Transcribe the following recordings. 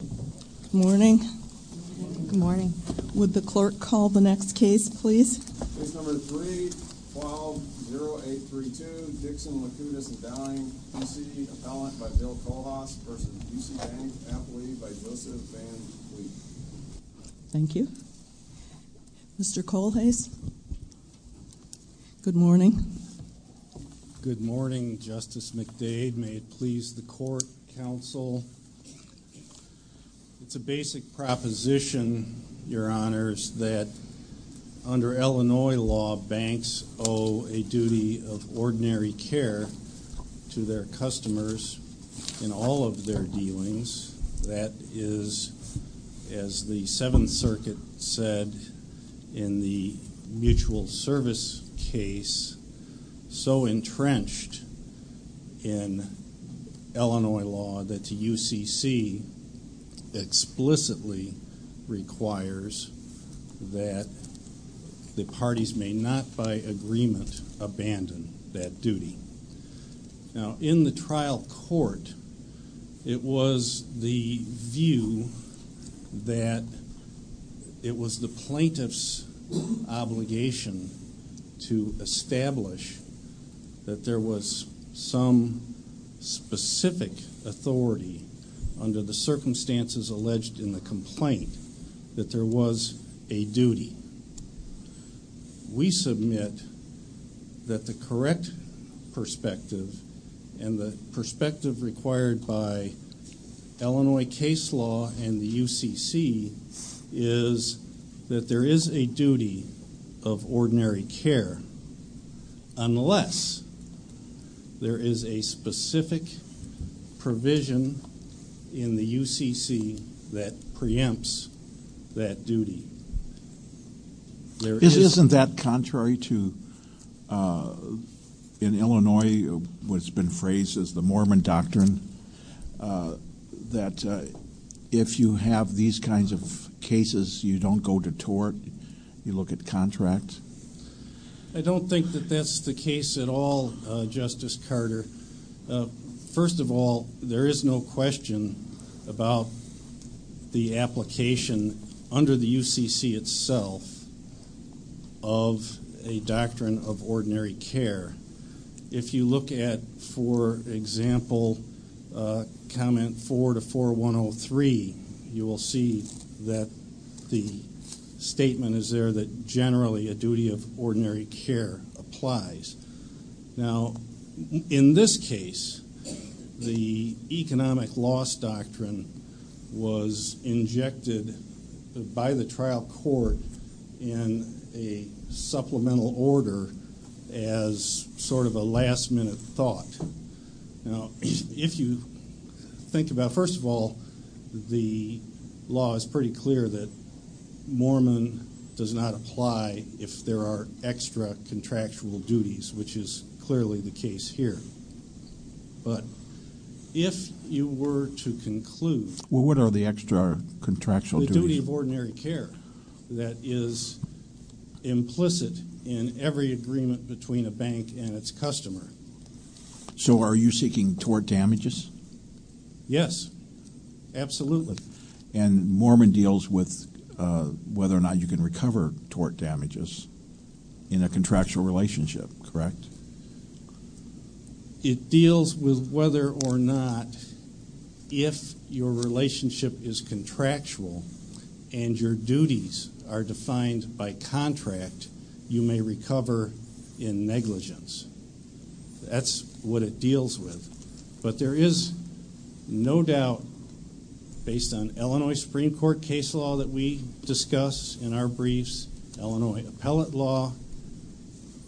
Good morning. Good morning. Good morning. Would the clerk call the next case, please? Case number 3, file 0832, Dixon Laukitis & Downing, P.C. Appellant by Bill Kohlhaas v. Busey Bank, Appellee by Joseph Van Vliet. Thank you. Mr. Kohlhase, good morning. Good morning, Justice McDade. May it please the court, counsel? It's a basic proposition, Your Honors, that under Illinois law, banks owe a duty of ordinary care to their customers in all of their dealings. That is, as the Seventh Circuit said in the mutual service case, so entrenched in Illinois law that the UCC explicitly requires that the parties may not by agreement abandon that duty. Now, in the trial court, it was the view that it was the plaintiff's obligation to establish that there was some specific authority under the circumstances alleged in the complaint that there was a duty. We submit that the correct perspective and the perspective required by Illinois case law and the UCC is that there is a duty of ordinary care unless there is a specific provision in the UCC that preempts that duty. Isn't that contrary to, in Illinois, what's been phrased as the Mormon doctrine, that if you have these kinds of cases, you don't go to tort, you look at contract? I don't think that that's the case at all, Justice Carter. First of all, there is no question about the application under the UCC itself of a doctrine of ordinary care. If you look at, for example, comment 4 to 4103, you will see that the statement is there that generally a duty of ordinary care applies. Now, in this case, the economic loss doctrine was injected by the trial court in a supplemental order as sort of a last-minute thought. Now, if you think about, first of all, the law is pretty clear that Mormon does not apply if there are extra contractual duties, which is clearly the case here. But if you were to conclude... Well, what are the extra contractual duties? The duty of ordinary care that is implicit in every agreement between a bank and its customer. So are you seeking tort damages? Yes, absolutely. And Mormon deals with whether or not you can recover tort damages in a contractual relationship, correct? It deals with whether or not if your relationship is contractual and your duties are defined by contract, you may recover in negligence. That's what it deals with. But there is no doubt, based on Illinois Supreme Court case law that we discuss in our briefs, Illinois appellate law,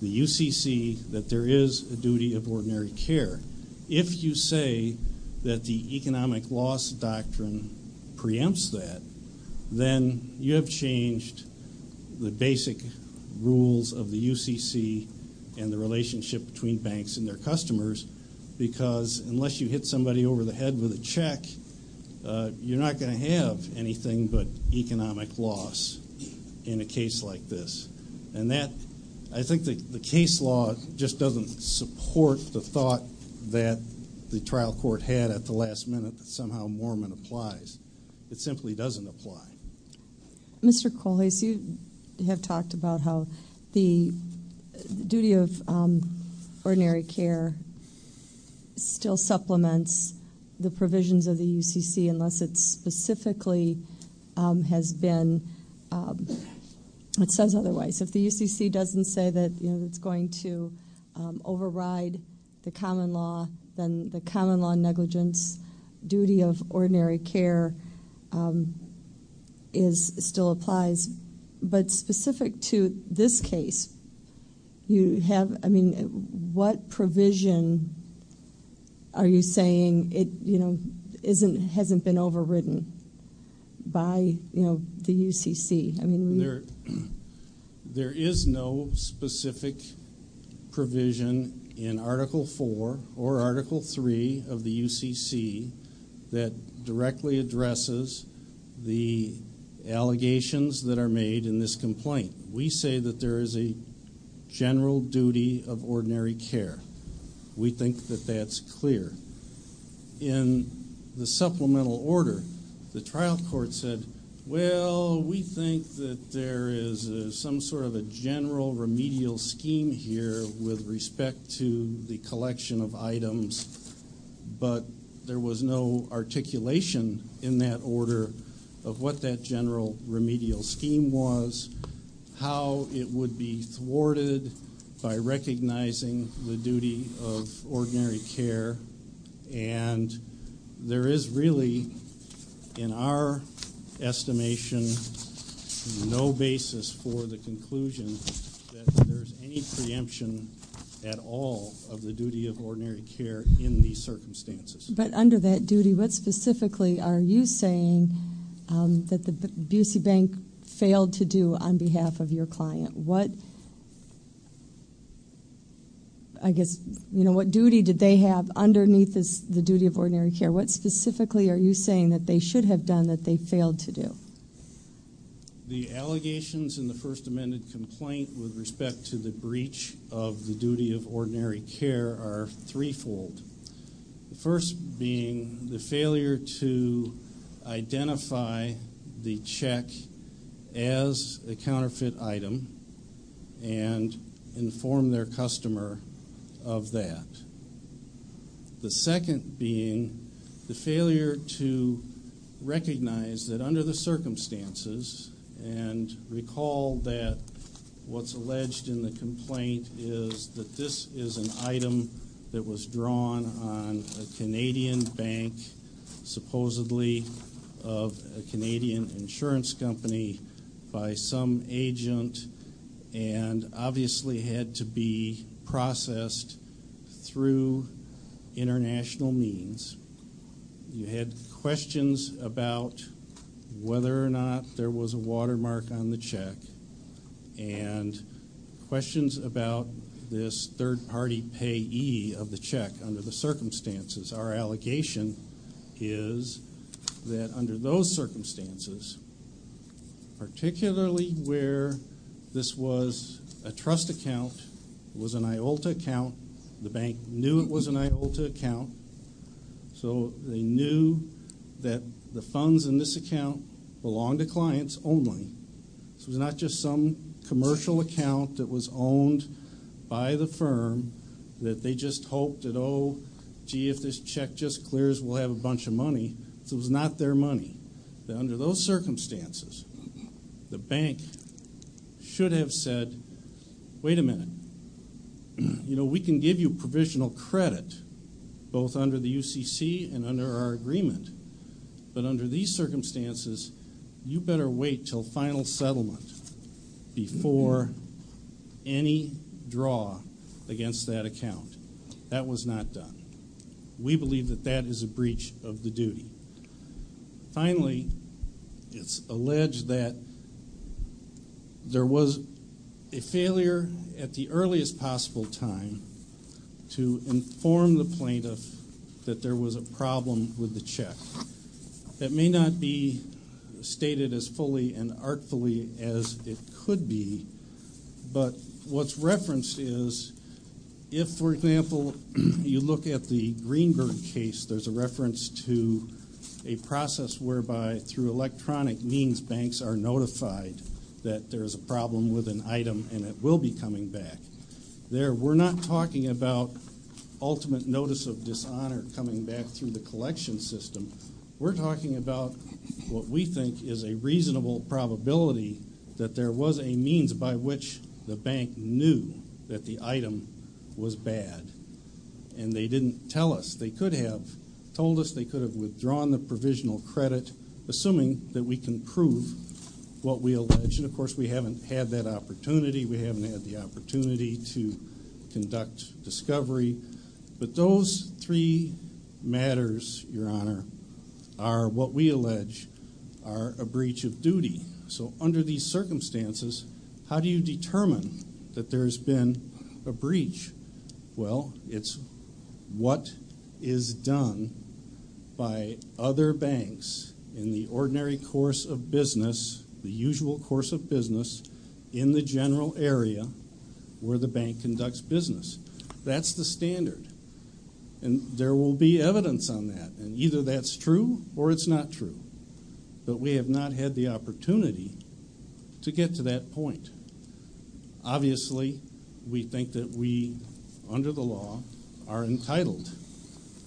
the UCC, that there is a duty of ordinary care. If you say that the economic loss doctrine preempts that, then you have changed the basic rules of the UCC and the relationship between banks and their customers, because unless you hit somebody over the head with a check, you're not going to have anything but economic loss in a case like this. And I think the case law just doesn't support the thought that the trial court had at the last minute that somehow Mormon applies. It simply doesn't apply. Mr. Kolles, you have talked about how the duty of ordinary care still supplements the provisions of the UCC unless it specifically has been, it says otherwise. If the UCC doesn't say that it's going to override the common law, then the common law negligence duty of ordinary care still applies. But specific to this case, what provision are you saying hasn't been overridden by the UCC? There is no specific provision in Article IV or Article III of the UCC that directly addresses the allegations that are made in this complaint. We say that there is a general duty of ordinary care. We think that that's clear. In the supplemental order, the trial court said, well, we think that there is some sort of a general remedial scheme here with respect to the collection of items, but there was no articulation in that order of what that general remedial scheme was, how it would be thwarted by recognizing the duty of ordinary care. And there is really, in our estimation, no basis for the conclusion that there's any preemption at all of the duty of ordinary care in these circumstances. But under that duty, what specifically are you saying that the UC Bank failed to do on behalf of your client? What, I guess, you know, what duty did they have underneath the duty of ordinary care? What specifically are you saying that they should have done that they failed to do? The allegations in the First Amendment complaint with respect to the breach of the duty of ordinary care are threefold. The first being the failure to identify the check as a counterfeit item and inform their customer of that. The second being the failure to recognize that under the circumstances, and recall that what's alleged in the complaint is that this is an item that was drawn on a Canadian bank, supposedly of a Canadian insurance company by some agent, and obviously had to be processed through international means. You had questions about whether or not there was a watermark on the check, and questions about this third-party payee of the check under the circumstances. Our allegation is that under those circumstances, particularly where this was a trust account, it was an IOLTA account, the bank knew it was an IOLTA account, so they knew that the funds in this account belonged to clients only. This was not just some commercial account that was owned by the firm that they just hoped that, oh, gee, if this check just clears, we'll have a bunch of money. This was not their money. Under those circumstances, the bank should have said, wait a minute, we can give you provisional credit both under the UCC and under our agreement, but under these circumstances, you better wait until final settlement before any draw against that account. That was not done. We believe that that is a breach of the duty. Finally, it's alleged that there was a failure at the earliest possible time to inform the plaintiff that there was a problem with the check. That may not be stated as fully and artfully as it could be, but what's referenced is if, for example, you look at the Greenberg case, there's a reference to a process whereby through electronic means banks are notified that there is a problem with an item and it will be coming back. We're not talking about ultimate notice of dishonor coming back through the collection system. We're talking about what we think is a reasonable probability that there was a means by which the bank knew that the item was bad. And they didn't tell us. They could have told us they could have withdrawn the provisional credit, assuming that we can prove what we allege. And, of course, we haven't had that opportunity. We haven't had the opportunity to conduct discovery. But those three matters, Your Honor, are what we allege are a breach of duty. So under these circumstances, how do you determine that there's been a breach? Well, it's what is done by other banks in the ordinary course of business, the usual course of business, in the general area where the bank conducts business. That's the standard. And there will be evidence on that. And either that's true or it's not true. But we have not had the opportunity to get to that point. Obviously, we think that we, under the law, are entitled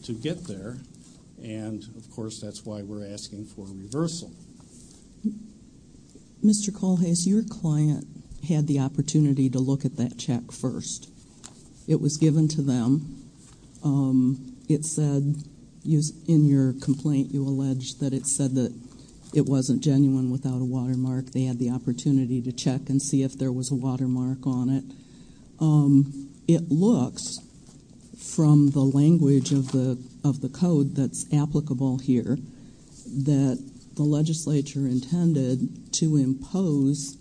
to get there. And, of course, that's why we're asking for reversal. Mr. Culhase, your client had the opportunity to look at that check first. It was given to them. It said, in your complaint, you allege that it said that it wasn't genuine without a watermark. They had the opportunity to check and see if there was a watermark on it. It looks, from the language of the code that's applicable here, that the legislature intended to impose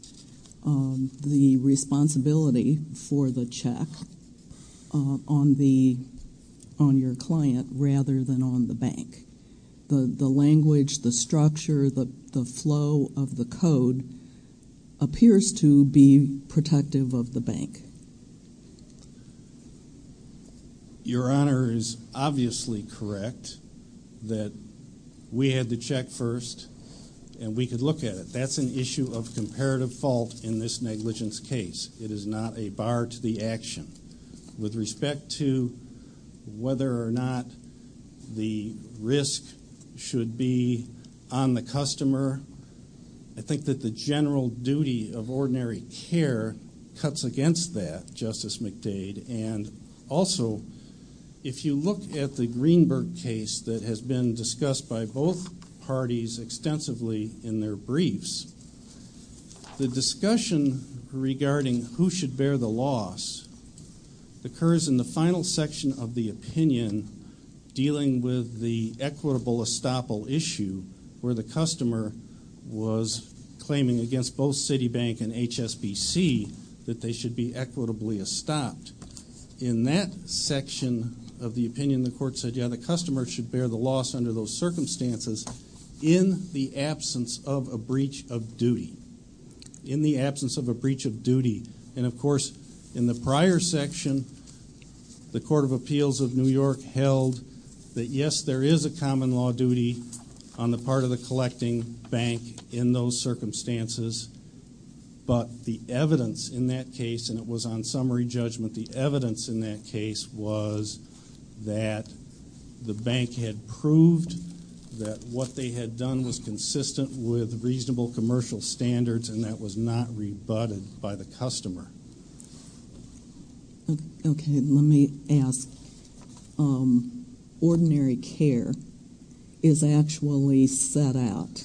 the responsibility for the check on your client rather than on the bank. The language, the structure, the flow of the code appears to be protective of the bank. Your Honor is obviously correct that we had the check first and we could look at it. That's an issue of comparative fault in this negligence case. It is not a bar to the action. With respect to whether or not the risk should be on the customer, I think that the general duty of ordinary care cuts against that, Justice McDade. And also, if you look at the Greenberg case that has been discussed by both parties extensively in their briefs, the discussion regarding who should bear the loss occurs in the final section of the opinion dealing with the equitable estoppel issue where the customer was claiming against both Citibank and HSBC that they should be equitably estopped. In that section of the opinion, the court said, yeah, the customer should bear the loss under those circumstances in the absence of a breach of duty. In the absence of a breach of duty. And, of course, in the prior section, the Court of Appeals of New York held that, yes, there is a common law duty on the part of the collecting bank in those circumstances. But the evidence in that case, and it was on summary judgment, the evidence in that case was that the bank had proved that what they had done was consistent with reasonable commercial standards and that was not rebutted by the customer. Okay, let me ask. Ordinary care is actually set out,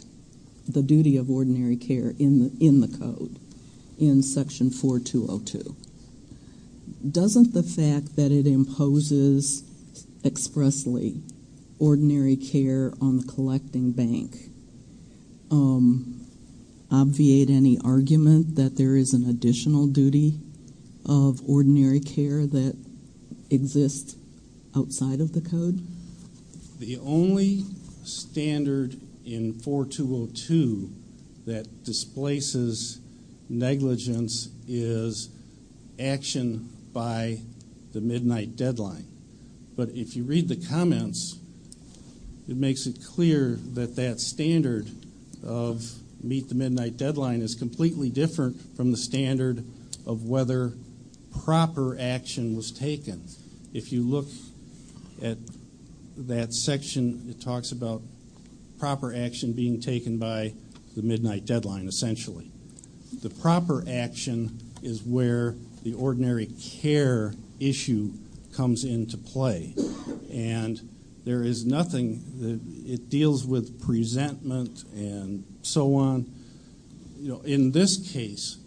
the duty of ordinary care, in the Code, in Section 4202. Doesn't the fact that it imposes expressly ordinary care on the collecting bank obviate any argument that there is an additional duty of ordinary care that exists outside of the Code? The only standard in 4202 that displaces negligence is action by the midnight deadline. But if you read the comments, it makes it clear that that standard of meet the midnight deadline is completely different from the standard of whether proper action was taken. If you look at that section, it talks about proper action being taken by the midnight deadline, essentially. The proper action is where the ordinary care issue comes into play. And there is nothing that it deals with presentment and so on. In this case,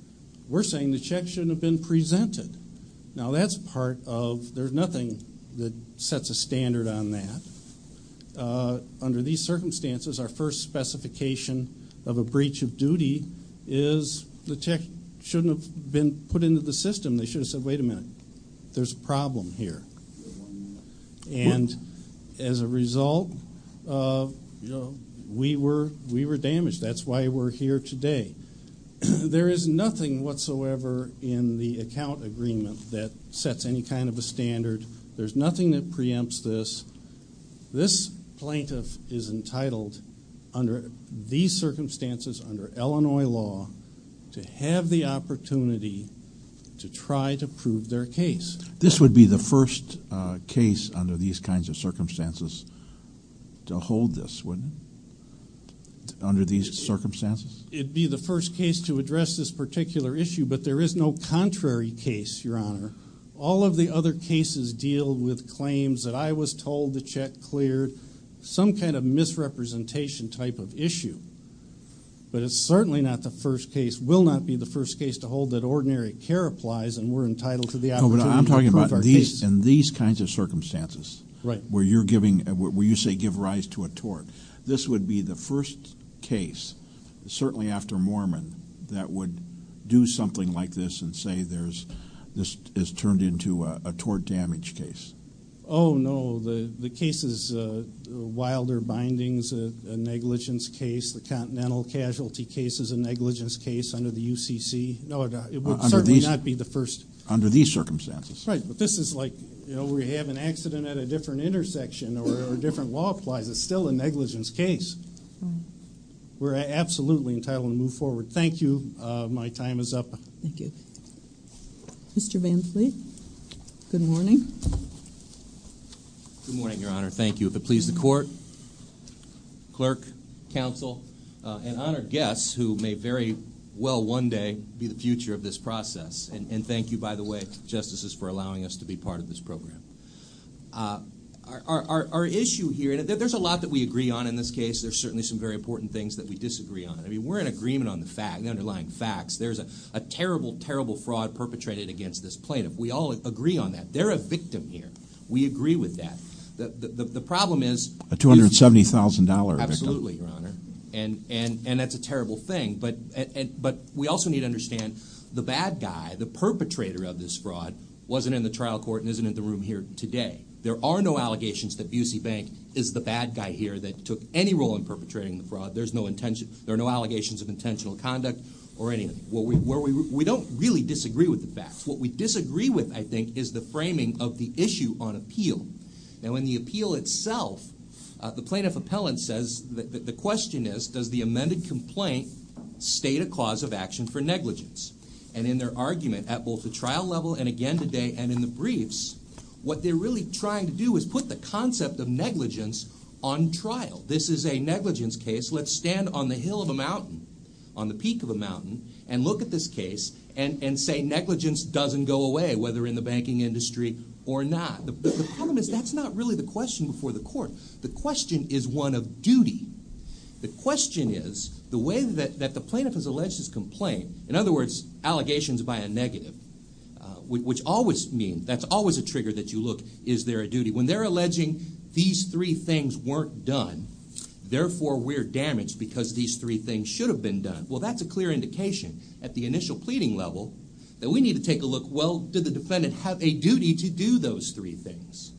we're saying the check shouldn't have been presented. Now, that's part of, there's nothing that sets a standard on that. Under these circumstances, our first specification of a breach of duty is the check shouldn't have been put into the system. They should have said, wait a minute, there's a problem here. And as a result, we were damaged. That's why we're here today. There is nothing whatsoever in the account agreement that sets any kind of a standard. There's nothing that preempts this. This plaintiff is entitled under these circumstances, under Illinois law, to have the opportunity to try to prove their case. This would be the first case under these kinds of circumstances to hold this, wouldn't it, under these circumstances? It would be the first case to address this particular issue. But there is no contrary case, Your Honor. All of the other cases deal with claims that I was told the check cleared, some kind of misrepresentation type of issue. But it's certainly not the first case, will not be the first case to hold that ordinary care applies and we're entitled to the opportunity to prove our case. No, but I'm talking about in these kinds of circumstances where you're giving, where you say give rise to a tort. This would be the first case, certainly after Mormon, that would do something like this and say this is turned into a tort damage case. Oh, no. The case is Wilder Bindings, a negligence case. The Continental Casualty case is a negligence case under the UCC. No, it would certainly not be the first. Under these circumstances. Right. But this is like, you know, we have an accident at a different intersection or a different law applies. It's still a negligence case. We're absolutely entitled to move forward. Thank you. My time is up. Thank you. Mr. Van Fleet, good morning. Good morning, Your Honor. Thank you. If it pleases the court, clerk, counsel, and honored guests who may very well one day be the future of this process. And thank you, by the way, Justices, for allowing us to be part of this program. Our issue here, and there's a lot that we agree on in this case. There's certainly some very important things that we disagree on. I mean, we're in agreement on the underlying facts. There's a terrible, terrible fraud perpetrated against this plaintiff. We all agree on that. They're a victim here. We agree with that. The problem is. A $270,000 victim. Absolutely, Your Honor. And that's a terrible thing. But we also need to understand the bad guy, the perpetrator of this fraud, wasn't in the trial court and isn't in the room here today. There are no allegations that Busey Bank is the bad guy here that took any role in perpetrating the fraud. There are no allegations of intentional conduct or anything. We don't really disagree with the facts. What we disagree with, I think, is the framing of the issue on appeal. Now, in the appeal itself, the plaintiff appellant says the question is, does the amended complaint state a cause of action for negligence? And in their argument at both the trial level and again today and in the briefs, what they're really trying to do is put the concept of negligence on trial. This is a negligence case. Let's stand on the hill of a mountain, on the peak of a mountain, and look at this case and say negligence doesn't go away, whether in the banking industry or not. The problem is that's not really the question before the court. The question is one of duty. The question is the way that the plaintiff has alleged his complaint, in other words, allegations by a negative, which always means, that's always a trigger that you look, is there a duty? When they're alleging these three things weren't done, therefore we're damaged because these three things should have been done, well, that's a clear indication at the initial pleading level that we need to take a look, well, did the defendant have a duty to do those three things?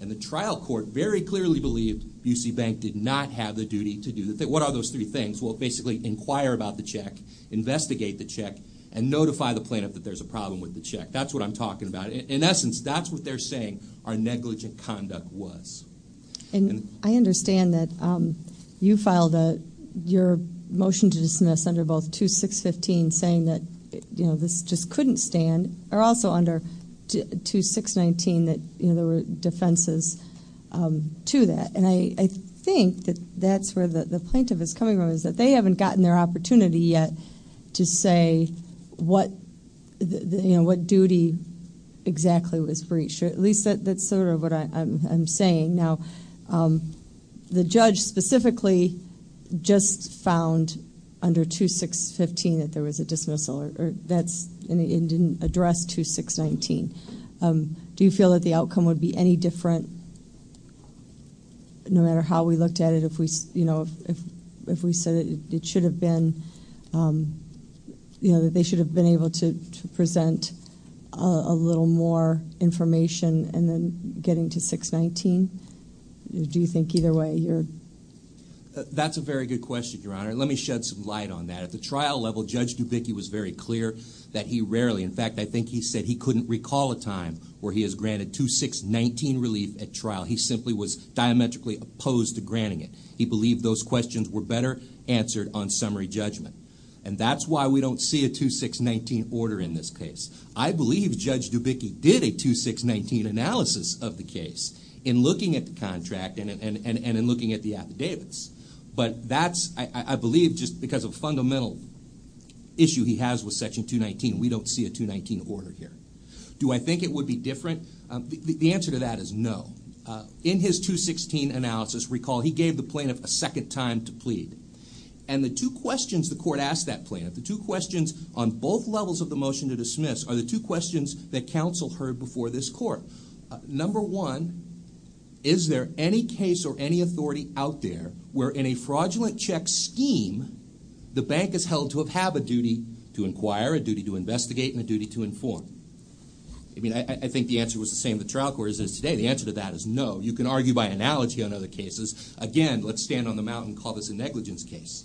And the trial court very clearly believed UC Bank did not have the duty to do that. What are those three things? Well, basically inquire about the check, investigate the check, and notify the plaintiff that there's a problem with the check. That's what I'm talking about. In essence, that's what they're saying our negligent conduct was. And I understand that you filed your motion to dismiss under both 2615 saying that this just couldn't stand, or also under 2619 that there were defenses to that. And I think that that's where the plaintiff is coming from is that they haven't gotten their opportunity yet to say what duty exactly was breached. At least that's sort of what I'm saying. Now, the judge specifically just found under 2615 that there was a dismissal, and it didn't address 2619. Do you feel that the outcome would be any different, no matter how we looked at it, if we said that they should have been able to present a little more information and then getting to 619? Do you think either way you're- That's a very good question, Your Honor. Let me shed some light on that. At the trial level, Judge Dubicki was very clear that he rarely, in fact, I think he said he couldn't recall a time where he has granted 2619 relief at trial. He simply was diametrically opposed to granting it. He believed those questions were better answered on summary judgment. And that's why we don't see a 2619 order in this case. I believe Judge Dubicki did a 2619 analysis of the case in looking at the contract and in looking at the affidavits. But that's, I believe, just because of a fundamental issue he has with Section 219. We don't see a 219 order here. Do I think it would be different? The answer to that is no. In his 216 analysis, recall, he gave the plaintiff a second time to plead. And the two questions the court asked that plaintiff, the two questions on both levels of the motion to dismiss, are the two questions that counsel heard before this court. Number one, is there any case or any authority out there where, in a fraudulent check scheme, the bank is held to have a duty to inquire, a duty to investigate, and a duty to inform? I mean, I think the answer was the same the trial court is today. The answer to that is no. You can argue by analogy on other cases. Again, let's stand on the mountain and call this a negligence case.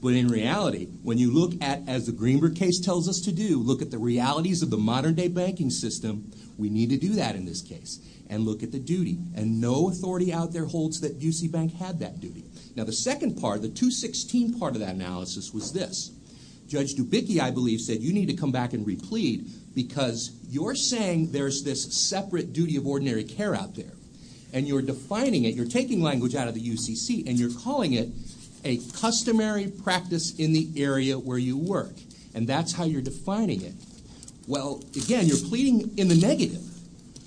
But in reality, when you look at, as the Greenberg case tells us to do, when you look at the realities of the modern-day banking system, we need to do that in this case and look at the duty. And no authority out there holds that UC Bank had that duty. Now, the second part, the 216 part of that analysis was this. Judge Dubicki, I believe, said you need to come back and replead because you're saying there's this separate duty of ordinary care out there, and you're defining it, you're taking language out of the UCC, and you're calling it a customary practice in the area where you work. And that's how you're defining it. Well, again, you're pleading in the negative.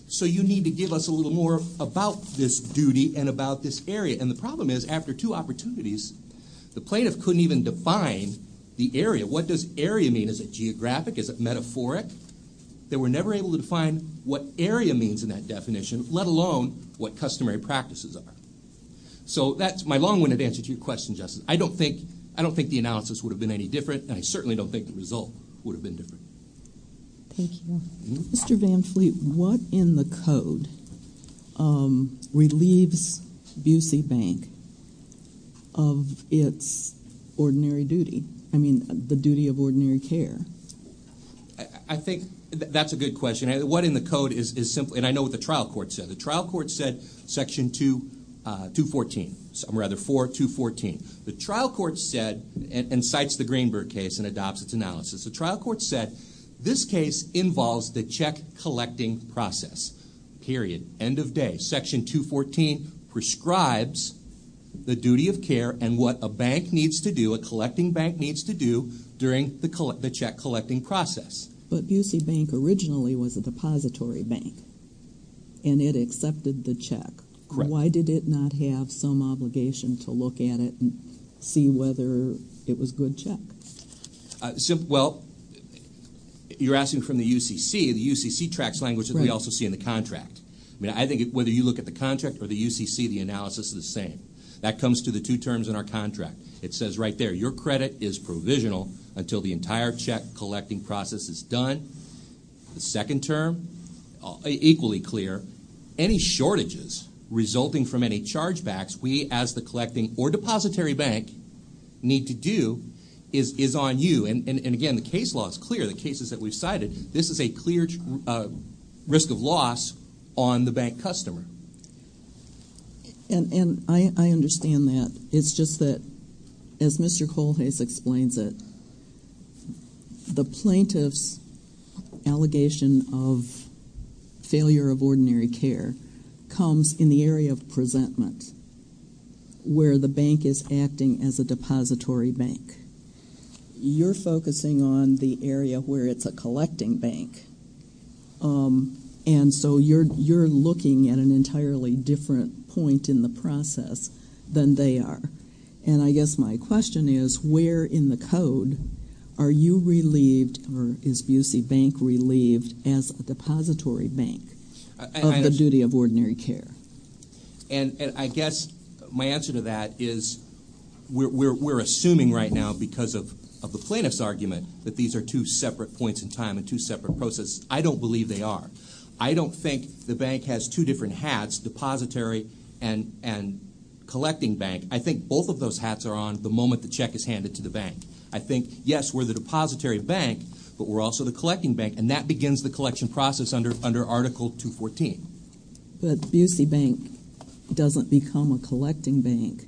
So you need to give us a little more about this duty and about this area. And the problem is, after two opportunities, the plaintiff couldn't even define the area. What does area mean? Is it geographic? Is it metaphoric? They were never able to define what area means in that definition, let alone what customary practices are. So that's my long-winded answer to your question, Justice. I don't think the analysis would have been any different, and I certainly don't think the result would have been different. Thank you. Mr. Van Fleet, what in the code relieves Bucey Bank of its ordinary duty, I mean the duty of ordinary care? I think that's a good question. What in the code is simply, and I know what the trial court said. The trial court said Section 214, or rather 4214. The trial court said, and cites the Greenberg case and adopts its analysis, the trial court said this case involves the check collecting process, period, end of day. Section 214 prescribes the duty of care and what a bank needs to do, a collecting bank needs to do during the check collecting process. But Bucey Bank originally was a depository bank, and it accepted the check. Correct. Why did it not have some obligation to look at it and see whether it was a good check? Well, you're asking from the UCC. The UCC tracks language that we also see in the contract. I think whether you look at the contract or the UCC, the analysis is the same. That comes to the two terms in our contract. It says right there, your credit is provisional until the entire check collecting process is done. The second term, equally clear. Any shortages resulting from any chargebacks we, as the collecting or depository bank, need to do is on you. And, again, the case law is clear. The cases that we've cited, this is a clear risk of loss on the bank customer. And I understand that. It's just that, as Mr. Colhase explains it, the plaintiff's allegation of failure of ordinary care comes in the area of presentment, where the bank is acting as a depository bank. You're focusing on the area where it's a collecting bank. And so you're looking at an entirely different point in the process than they are. And I guess my question is, where in the code are you relieved, or is UC Bank relieved as a depository bank of the duty of ordinary care? And I guess my answer to that is we're assuming right now, because of the plaintiff's argument, that these are two separate points in time and two separate processes. I don't believe they are. I don't think the bank has two different hats, depository and collecting bank. I think both of those hats are on the moment the check is handed to the bank. I think, yes, we're the depository bank, but we're also the collecting bank, and that begins the collection process under Article 214. But UC Bank doesn't become a collecting bank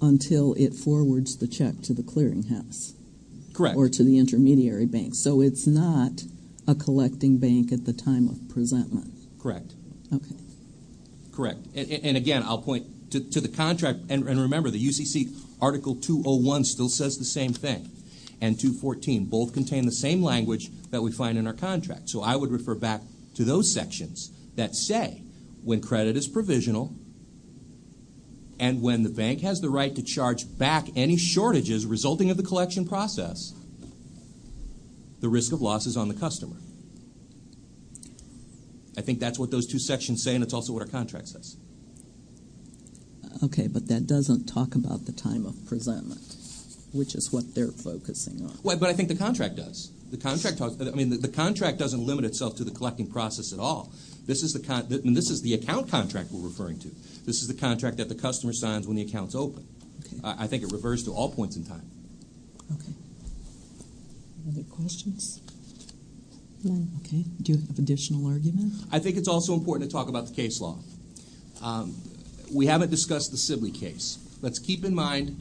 until it forwards the check to the clearinghouse. Correct. Or to the intermediary bank. So it's not a collecting bank at the time of presentment. Correct. Okay. Correct. And, again, I'll point to the contract. And remember, the UCC Article 201 still says the same thing, and 214. Both contain the same language that we find in our contract. So I would refer back to those sections that say when credit is provisional and when the bank has the right to charge back any shortages resulting of the collection process, the risk of loss is on the customer. I think that's what those two sections say, and it's also what our contract says. Okay, but that doesn't talk about the time of presentment, which is what they're focusing on. But I think the contract does. The contract doesn't limit itself to the collecting process at all. This is the account contract we're referring to. This is the contract that the customer signs when the account's open. I think it refers to all points in time. Okay. Other questions? No. Okay. Do you have additional argument? I think it's also important to talk about the case law. We haven't discussed the Sibley case. Let's keep in mind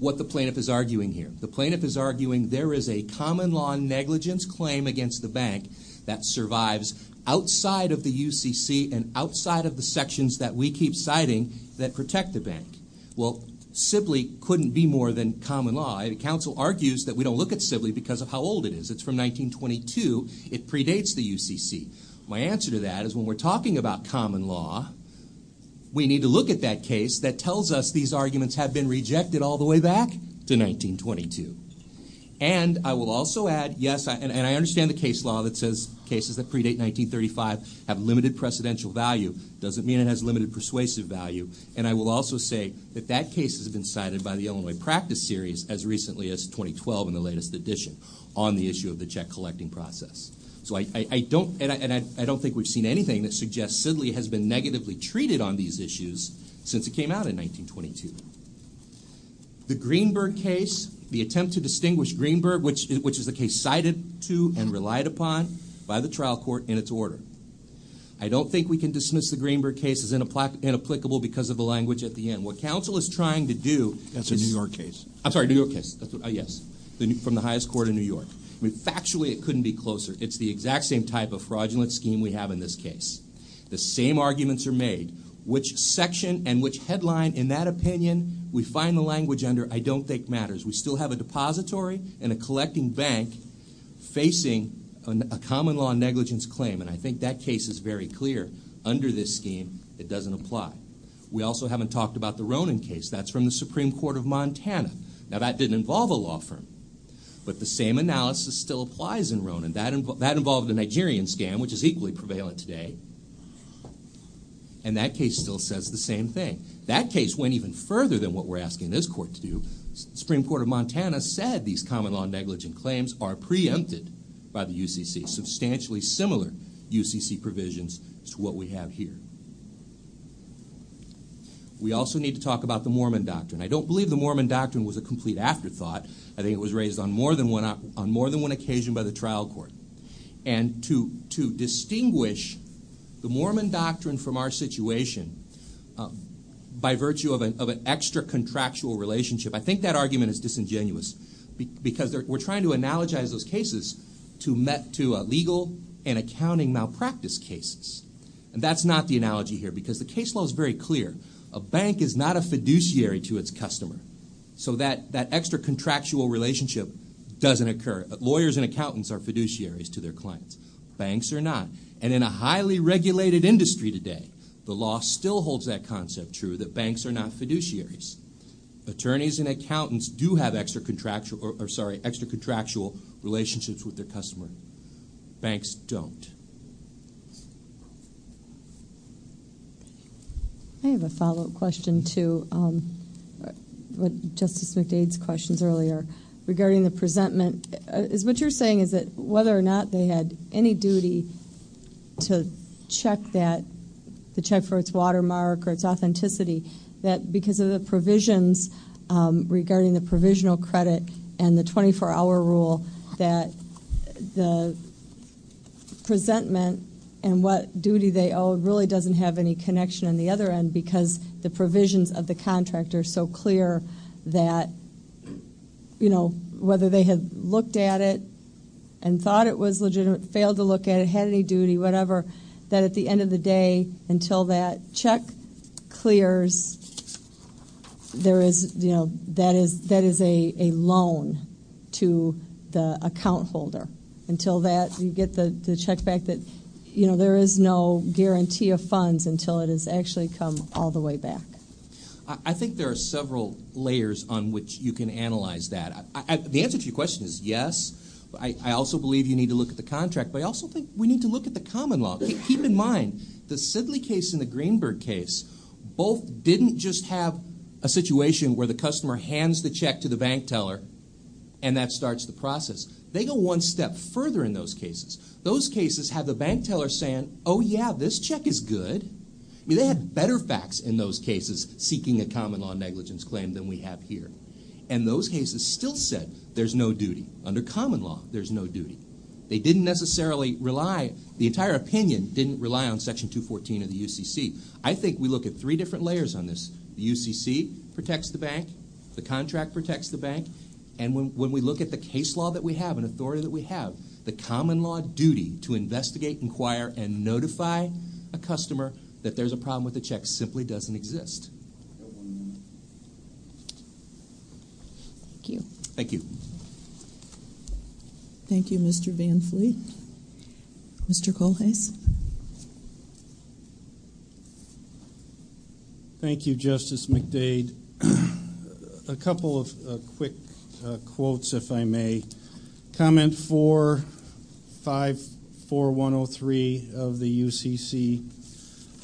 what the plaintiff is arguing here. The plaintiff is arguing there is a common law negligence claim against the bank that survives outside of the UCC and outside of the sections that we keep citing that protect the bank. Well, Sibley couldn't be more than common law. The counsel argues that we don't look at Sibley because of how old it is. It's from 1922. It predates the UCC. My answer to that is when we're talking about common law, we need to look at that case that tells us these arguments have been rejected all the way back to 1922. And I will also add, yes, and I understand the case law that says cases that predate 1935 have limited precedential value doesn't mean it has limited persuasive value. And I will also say that that case has been cited by the Illinois Practice Series as recently as 2012 in the latest edition on the issue of the check collecting process. So I don't think we've seen anything that suggests Sibley has been negatively treated on these issues since it came out in 1922. The Greenberg case, the attempt to distinguish Greenberg, which is the case cited to and relied upon by the trial court in its order. I don't think we can dismiss the Greenberg case as inapplicable because of the language at the end. What counsel is trying to do is... That's a New York case. I'm sorry, a New York case, yes, from the highest court in New York. Factually, it couldn't be closer. It's the exact same type of fraudulent scheme we have in this case. The same arguments are made. Which section and which headline in that opinion we find the language under, I don't think matters. We still have a depository and a collecting bank facing a common law negligence claim, and I think that case is very clear. Under this scheme, it doesn't apply. We also haven't talked about the Ronan case. That's from the Supreme Court of Montana. Now, that didn't involve a law firm. But the same analysis still applies in Ronan. That involved a Nigerian scam, which is equally prevalent today. And that case still says the same thing. That case went even further than what we're asking this court to do. The Supreme Court of Montana said these common law negligence claims are preempted by the UCC. Substantially similar UCC provisions to what we have here. We also need to talk about the Mormon doctrine. I don't believe the Mormon doctrine was a complete afterthought. I think it was raised on more than one occasion by the trial court. And to distinguish the Mormon doctrine from our situation by virtue of an extra-contractual relationship, I think that argument is disingenuous. Because we're trying to analogize those cases to legal and accounting malpractice cases. And that's not the analogy here, because the case law is very clear. A bank is not a fiduciary to its customer. So that extra-contractual relationship doesn't occur. Lawyers and accountants are fiduciaries to their clients. Banks are not. And in a highly regulated industry today, the law still holds that concept true, that banks are not fiduciaries. Attorneys and accountants do have extra-contractual relationships with their customer. Banks don't. Thank you. I have a follow-up question to Justice McDade's questions earlier regarding the presentment. What you're saying is that whether or not they had any duty to check that, to check for its watermark or its authenticity, that because of the provisions regarding the provisional credit and the 24-hour rule, that the presentment and what duty they owe really doesn't have any connection on the other end, because the provisions of the contract are so clear that, you know, whether they had looked at it and thought it was legitimate, failed to look at it, had any duty, whatever, that at the end of the day, until that check clears, there is, you know, that is a loan to the account holder. Until that, you get the check back that, you know, there is no guarantee of funds until it has actually come all the way back. I think there are several layers on which you can analyze that. The answer to your question is yes. I also believe you need to look at the contract. But I also think we need to look at the common law. Keep in mind, the Sidley case and the Greenberg case both didn't just have a situation where the customer hands the check to the bank teller and that starts the process. They go one step further in those cases. Those cases have the bank teller saying, oh, yeah, this check is good. I mean, they had better facts in those cases seeking a common law negligence claim than we have here. And those cases still said there's no duty. Under common law, there's no duty. They didn't necessarily rely. The entire opinion didn't rely on Section 214 of the UCC. I think we look at three different layers on this. The UCC protects the bank. The contract protects the bank. And when we look at the case law that we have and authority that we have, the common law duty to investigate, inquire, and notify a customer that there's a problem with the check simply doesn't exist. Thank you. Thank you. Thank you, Mr. Van Vliet. Mr. Kohlhase. Thank you, Justice McDade. A couple of quick quotes, if I may. Comment 454103 of the UCC.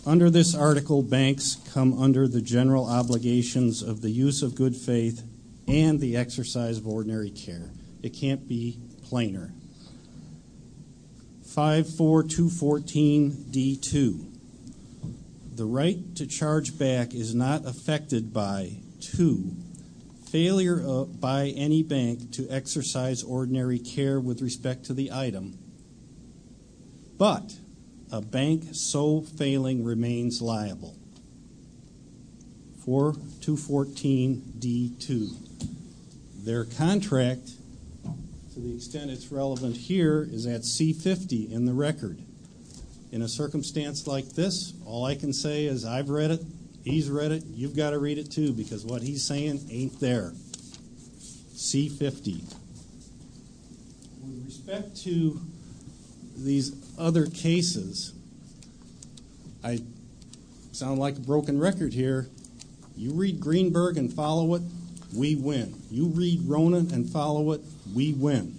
Under this article, banks come under the general obligations of the use of good faith and the exercise of ordinary care. It can't be plainer. 54214D2. The right to charge back is not affected by two, failure by any bank to exercise ordinary care with respect to the item, but a bank so failing remains liable. 4214D2. Their contract, to the extent it's relevant here, is at C50 in the record. In a circumstance like this, all I can say is I've read it, he's read it, you've got to read it, too, because what he's saying ain't there. C50. With respect to these other cases, I sound like a broken record here. You read Greenberg and follow it, we win. You read Ronan and follow it, we win.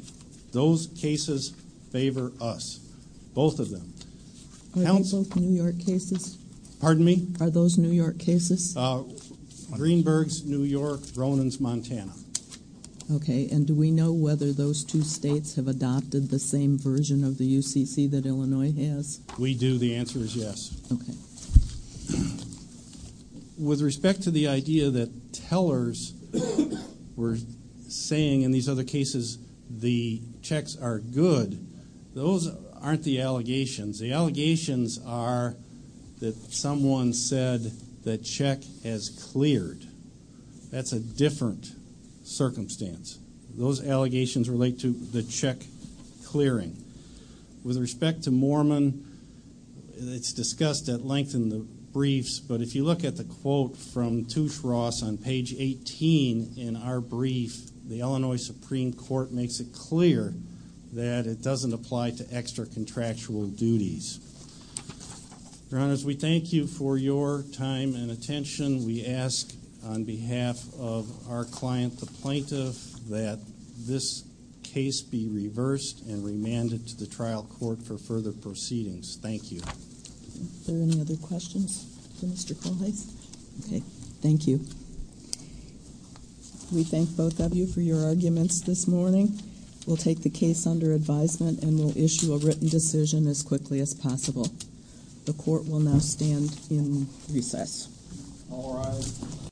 Those cases favor us, both of them. Are they both New York cases? Pardon me? Are those New York cases? Greenberg's New York, Ronan's Montana. Okay. And do we know whether those two states have adopted the same version of the UCC that Illinois has? We do. The answer is yes. Okay. With respect to the idea that tellers were saying in these other cases the checks are good, those aren't the allegations. The allegations are that someone said the check has cleared. That's a different circumstance. Those allegations relate to the check clearing. With respect to Moorman, it's discussed at length in the briefs, but if you look at the quote from Touche Ross on page 18 in our brief, the Illinois Supreme Court makes it clear that it doesn't apply to extra-contractual duties. Your Honors, we thank you for your time and attention. We ask on behalf of our client, the plaintiff, that this case be reversed and remanded to the trial court for further proceedings. Thank you. Are there any other questions for Mr. Kullhys? Okay. Thank you. We thank both of you for your arguments this morning. We'll take the case under advisement and we'll issue a written decision as quickly as possible. The court will now stand in recess. All rise.